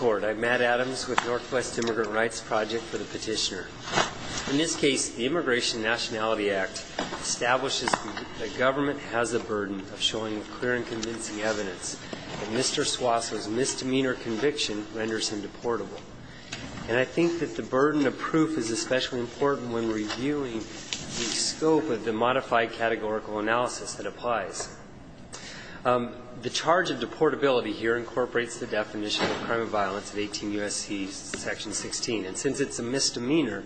I'm Matt Adams with Northwest Immigrant Rights Project for the Petitioner. In this case, the Immigration and Nationality Act establishes that government has the burden of showing clear and convincing evidence that Mr. Suazo's misdemeanor conviction renders him deportable. And I think that the burden of proof is especially important when reviewing the scope of the modified categorical analysis that applies. The charge of deportability here incorporates the definition of a crime of violence in 18 U.S.C. section 16. And since it's a misdemeanor,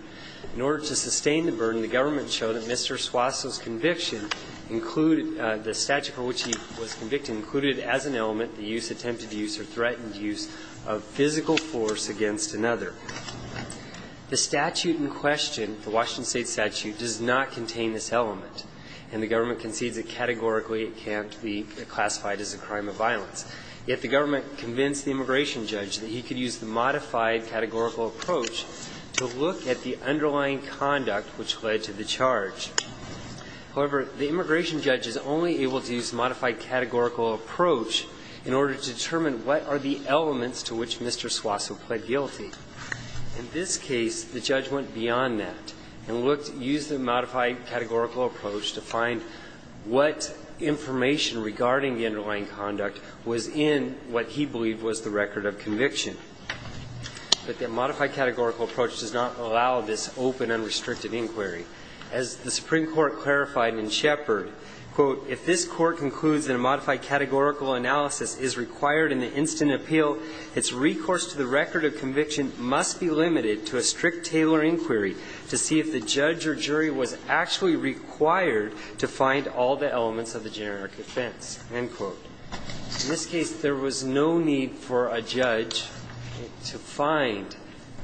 in order to sustain the burden, the government showed that Mr. Suazo's conviction included the statute for which he was convicted included as an element the use, attempted use, or threatened use of physical force against another. The statute in question, the Washington State statute, does not contain this element. And the government concedes that categorically it can't be classified as a crime of violence. Yet the government convinced the immigration judge that he could use the modified categorical approach to look at the underlying conduct which led to the charge. However, the immigration judge is only able to use modified categorical approach in order to determine what are the elements to which Mr. Suazo pled guilty. In this case, the judge went beyond that and used the modified categorical approach to find what information regarding the underlying conduct was in what he believed was the record of conviction. But the modified categorical approach does not allow this open, unrestricted inquiry. As the Supreme Court clarified in Shepard, quote, its recourse to the record of conviction must be limited to a strict, tailored inquiry to see if the judge or jury was actually required to find all the elements of the generic offense, end quote. In this case, there was no need for a judge to find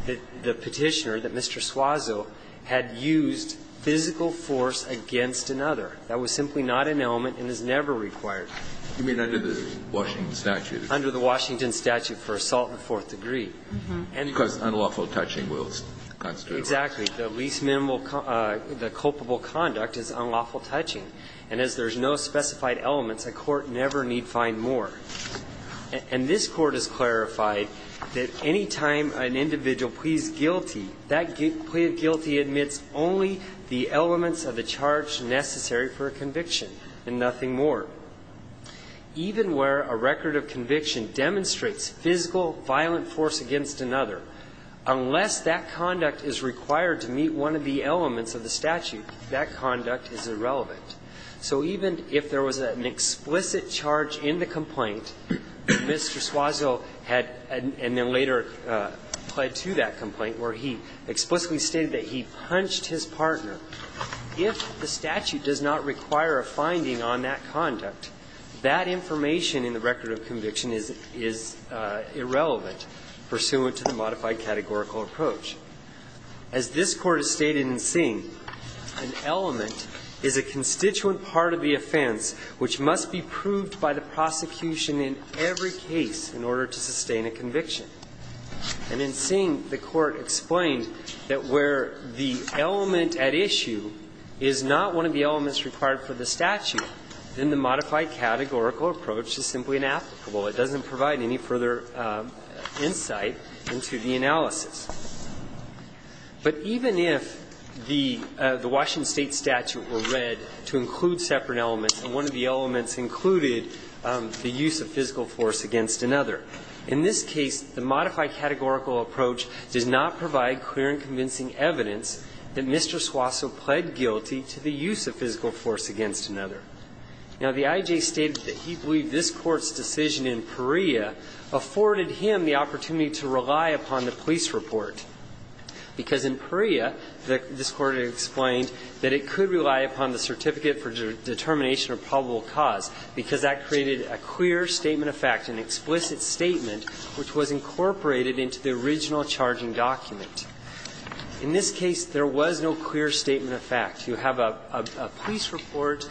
the Petitioner that Mr. Suazo had used physical force against another. That was simply not an element and is never required. You mean under the Washington statute? Under the Washington statute for assault in the fourth degree. Because unlawful touching will constitute a violation. Exactly. The least minimal, the culpable conduct is unlawful touching. And as there's no specified elements, a court never need find more. And this Court has clarified that any time an individual pleads guilty, that plea of guilty admits only the elements of the charge necessary for a conviction and nothing more. Even where a record of conviction demonstrates physical violent force against another, unless that conduct is required to meet one of the elements of the statute, that conduct is irrelevant. So even if there was an explicit charge in the complaint, Mr. Suazo had and then later pled to that complaint where he explicitly stated that he punched his partner, if the statute does not require a finding on that conduct, that information in the record of conviction is irrelevant pursuant to the modified categorical approach. As this Court has stated in Singh, an element is a constituent part of the offense which must be proved by the prosecution in every case in order to sustain a conviction. And in Singh, the Court explained that where the element at issue is not one of the elements required for the statute, then the modified categorical approach is simply inapplicable. It doesn't provide any further insight into the analysis. But even if the Washington State statute were read to include separate elements and one of the elements included the use of physical force against another, in this case, the modified categorical approach does not provide clear and convincing evidence that Mr. Suazo pled guilty to the use of physical force against another. Now, the IJ stated that he believed this Court's decision in Perea afforded him the opportunity to rely upon the police report. Because in Perea, this Court explained that it could rely upon the certificate for determination of probable cause because that created a clear statement of fact, an explicit statement which was incorporated into the original charging document. In this case, there was no clear statement of fact. You have a police report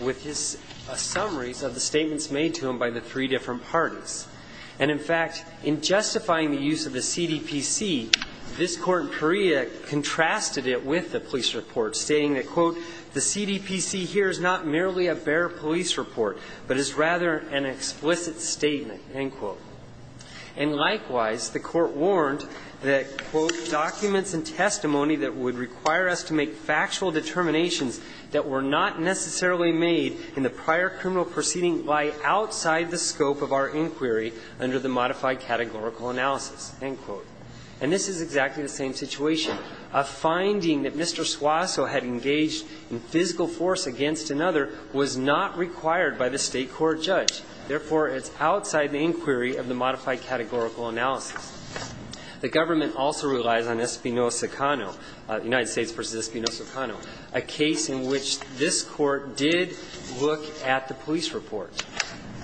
with a summary of the statements made to him by the three different parties. And, in fact, in justifying the use of the CDPC, this Court in Perea contrasted it with the police report, stating that, quote, And, likewise, the Court warned that, quote, And this is exactly the same situation. A finding that Mr. Suazo had engaged in physical force against another, in this case, police report, stating that, quote, was not required by the state court judge. Therefore, it's outside the inquiry of the modified categorical analysis. The government also relies on Espinoza-Cano, United States v. Espinoza-Cano, a case in which this Court did look at the police report.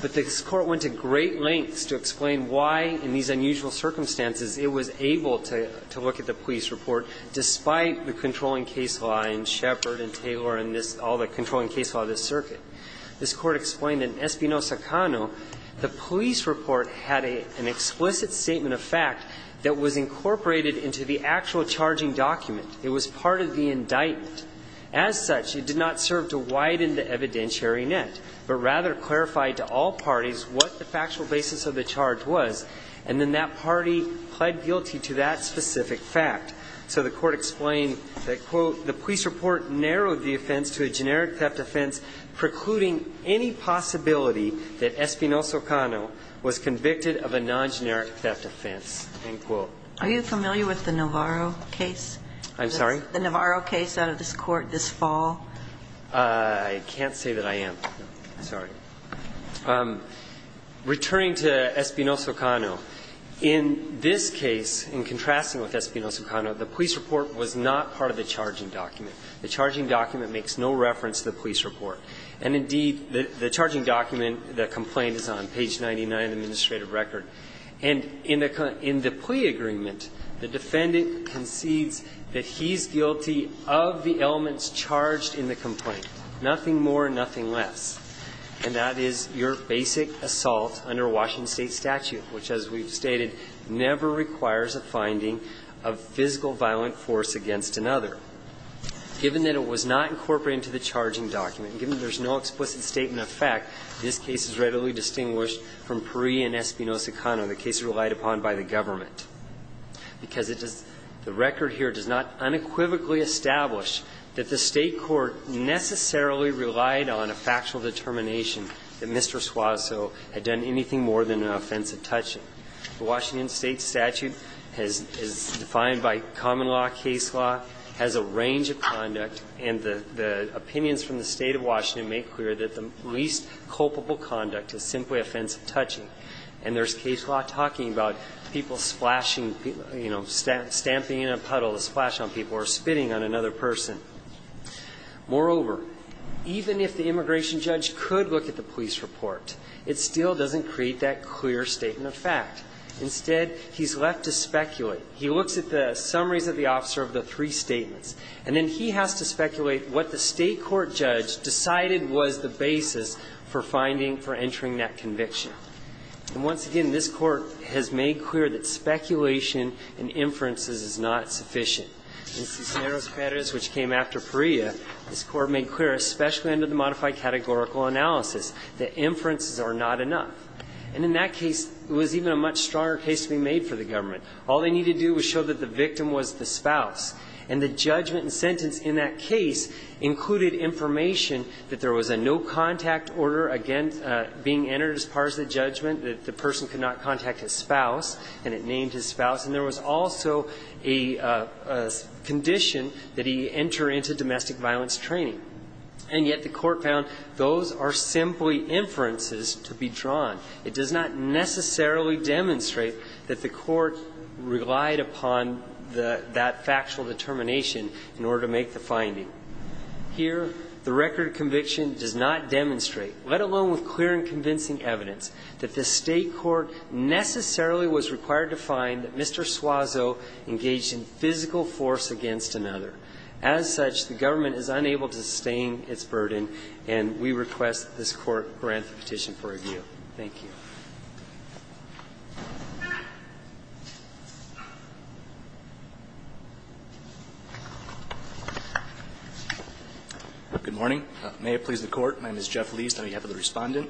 But this Court went to great lengths to explain why, in these unusual circumstances, it was able to look at the police report, despite the controlling case law and this circuit. This Court explained that in Espinoza-Cano, the police report had an explicit statement of fact that was incorporated into the actual charging document. It was part of the indictment. As such, it did not serve to widen the evidentiary net, but rather clarified to all parties what the factual basis of the charge was, and then that party pled So the Court explained that, quote, the police report narrowed the offense to a generic theft offense precluding any possibility that Espinoza-Cano was convicted of a non-generic theft offense, end quote. Are you familiar with the Navarro case? I'm sorry? The Navarro case out of this Court this fall. I can't say that I am. Sorry. Returning to Espinoza-Cano, in this case, in contrasting with Espinoza-Cano, the police report was not part of the charging document. The charging document makes no reference to the police report. And, indeed, the charging document, the complaint, is on page 99 of the administrative record. And in the plea agreement, the defendant concedes that he's guilty of the elements charged in the complaint, nothing more, nothing less. And that is your basic assault under a Washington State statute, which, as we've stated, never requires a finding of physical violent force against another. Given that it was not incorporated into the charging document, given that there's no explicit statement of fact, this case is readily distinguished from Pari and Espinoza-Cano, the cases relied upon by the government, because it does the record here does not unequivocally establish that the State court necessarily relied on a factual determination that Mr. Suazo had done anything more than an offensive touching. The Washington State statute is defined by common law, case law, has a range of conduct, and the opinions from the State of Washington make clear that the least culpable conduct is simply offensive touching. And there's case law talking about people splashing, you know, stamping in a puddle to splash on people or spitting on another person. Moreover, even if the immigration judge could look at the police report, it still doesn't create that clear statement of fact. Instead, he's left to speculate. He looks at the summaries of the officer of the three statements, and then he has to speculate what the State court judge decided was the basis for finding, for entering that conviction. And once again, this Court has made clear that speculation and inferences is not sufficient. In Cisneros-Perez, which came after Pari, this Court made clear, especially under the modified categorical analysis, that inferences are not enough. And in that case, it was even a much stronger case to be made for the government. All they needed to do was show that the victim was the spouse. And the judgment and sentence in that case included information that there was a no-contact order, again, being entered as part of the judgment, that the person could not contact his spouse, and it named his spouse. And there was also a condition that he enter into domestic violence training. And yet the Court found those are simply inferences to be drawn. It does not necessarily demonstrate that the Court relied upon that factual determination in order to make the finding. Here, the record of conviction does not demonstrate, let alone with clear and convincing evidence, that the State court necessarily was required to find that Mr. Suazo engaged in physical force against another. As such, the government is unable to sustain its burden, and we request this Court grant the petition for review. Thank you. Good morning. May it please the Court. My name is Jeff Leist. I'll be happy to respond. The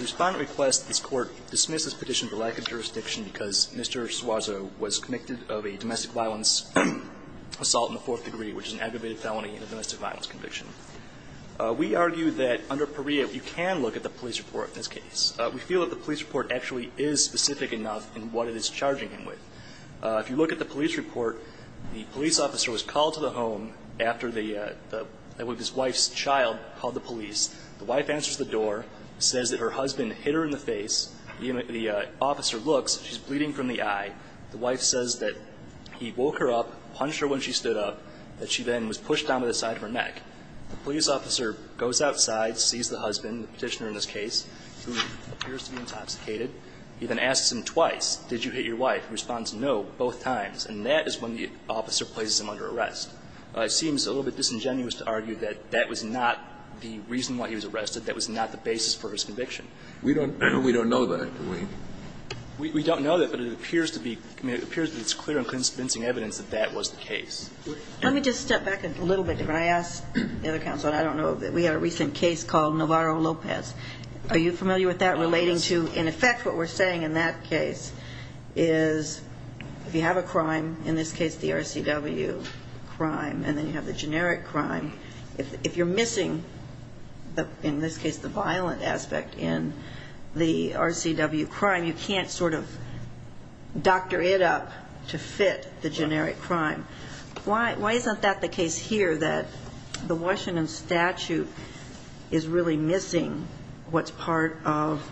Respondent requests that this Court dismiss this petition for lack of jurisdiction because Mr. Suazo was convicted of a domestic violence assault in the fourth degree, which is an aggravated felony and a domestic violence conviction. We argue that under Perea, you can look at the police report in this case. We feel that the police report actually is specific enough in what it is charging him with. If you look at the police report, the police officer was called to the home after the wife's child called the police. The wife answers the door, says that her husband hit her in the face. The officer looks. She's bleeding from the eye. The wife says that he woke her up, punched her when she stood up, that she then was pushed down by the side of her neck. The police officer goes outside, sees the husband, the petitioner in this case, who appears to be intoxicated. He then asks him twice, did you hit your wife? He responds, no, both times. And that is when the officer places him under arrest. It seems a little bit disingenuous to argue that that was not the reason why he was arrested. That was not the basis for his conviction. We don't know that, do we? We don't know that, but it appears to be clear and convincing evidence that that was the case. Let me just step back a little bit. When I asked the other counsel, I don't know, we had a recent case called Navarro-Lopez. Are you familiar with that relating to in effect what we're saying in that case is if you have a crime, in this case the RCW crime, and then you have the generic crime, if you're missing, in this case, the violent aspect in the RCW crime, you can't sort of doctor it up to fit the generic crime. Why isn't that the case here, that the Washington statute is really missing what's part of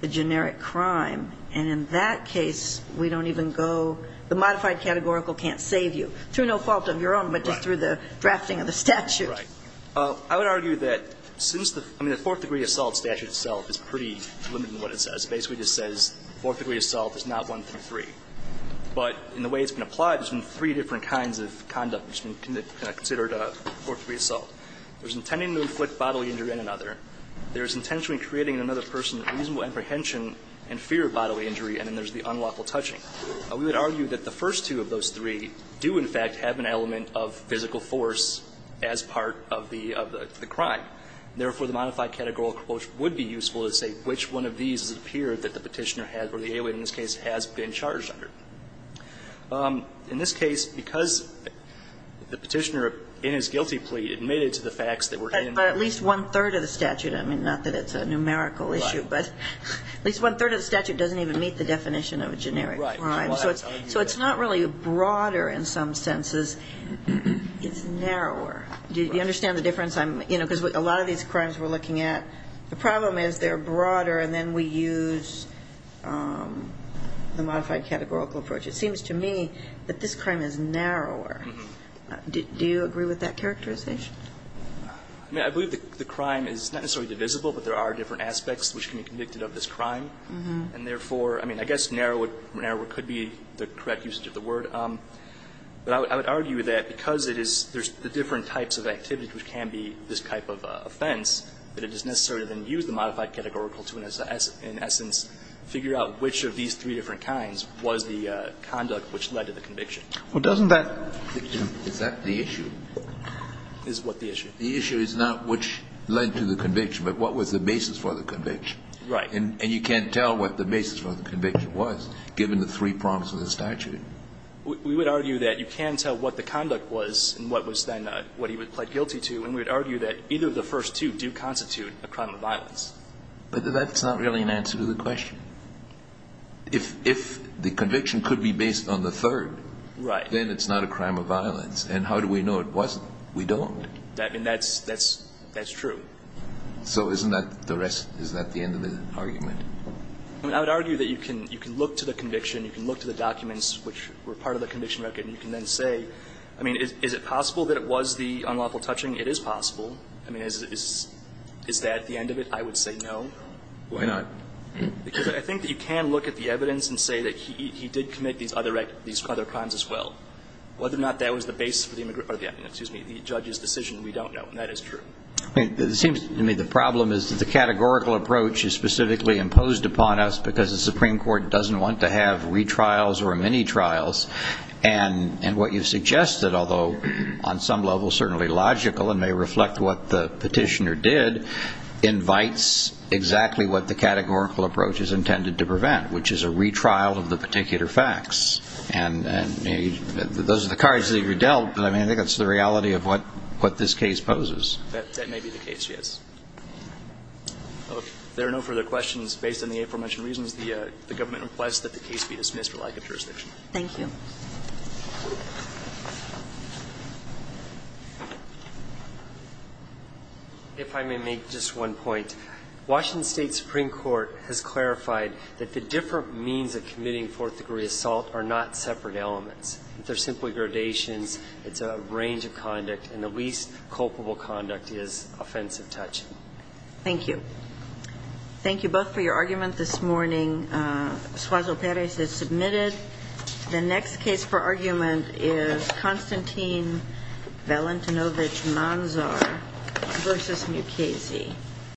the generic crime? And in that case, we don't even go, the modified categorical can't save you, through no fault of your own, but just through the drafting of the statute. Right. I would argue that since the Fourth Degree Assault statute itself is pretty limited in what it says. It basically just says Fourth Degree Assault is not one through three. But in the way it's been applied, there's been three different kinds of conduct that's been considered Fourth Degree Assault. There's intending to inflict bodily injury on another. There's intentionally creating in another person reasonable apprehension and fear of bodily injury. And then there's the unlawful touching. We would argue that the first two of those three do, in fact, have an element of physical force as part of the crime. Therefore, the modified categorical approach would be useful to say which one of these has appeared that the Petitioner has, or the alien in this case, has been charged under. In this case, because the Petitioner, in his guilty plea, admitted to the facts that were in the statute. But at least one-third of the statute. I mean, not that it's a numerical issue, but at least one-third of the statute doesn't even meet the definition of a generic crime. So it's not really broader in some senses. It's narrower. Do you understand the difference? Because a lot of these crimes we're looking at, the problem is they're broader and then we use the modified categorical approach. It seems to me that this crime is narrower. Do you agree with that characterization? I mean, I believe the crime is not necessarily divisible, but there are different aspects which can be convicted of this crime. And therefore, I mean, I guess narrower could be the correct usage of the word. But I would argue that because it is, there's the different types of activities which can be this type of offense, that it is necessary to then use the modified categorical to, in essence, figure out which of these three different kinds was the conduct which led to the conviction. Well, doesn't that? Is that the issue? Is what the issue? The issue is not which led to the conviction, but what was the basis for the conviction. Right. And you can't tell what the basis for the conviction was, given the three prongs of the statute. We would argue that you can tell what the conduct was and what was then what he would plead guilty to, and we would argue that either of the first two do constitute a crime of violence. But that's not really an answer to the question. If the conviction could be based on the third, then it's not a crime of violence. And how do we know it wasn't? We don't. I mean, that's true. So isn't that the rest? Is that the end of the argument? I would argue that you can look to the conviction, you can look to the documents which were part of the conviction record, and you can then say, I mean, is it possible that it was the unlawful touching? It is possible. I mean, is that the end of it? I would say no. Why not? Because I think that you can look at the evidence and say that he did commit these other crimes as well. Whether or not that was the basis for the judge's decision, we don't know, and that is true. It seems to me the problem is that the categorical approach is specifically imposed upon us because the Supreme Court doesn't want to have retrials or mini-trials. And what you've suggested, although on some level certainly logical and may reflect what the petitioner did, invites exactly what the categorical approach is intended to prevent, which is a retrial of the particular facts. And those are the cards that you dealt, but I think that's the reality of what this case poses. That may be the case, yes. If there are no further questions, based on the aforementioned reasons, the government requests that the case be dismissed for lack of jurisdiction. Thank you. If I may make just one point, Washington State Supreme Court has clarified that the different means of committing fourth-degree assault are not separate elements. They're simply gradations. It's a range of conduct, and the least culpable conduct is offensive touch. Thank you. Thank you both for your argument this morning. Suazo-Perez is submitted. The next case for argument is Konstantin Valentinovich Manzar v. Mukasey.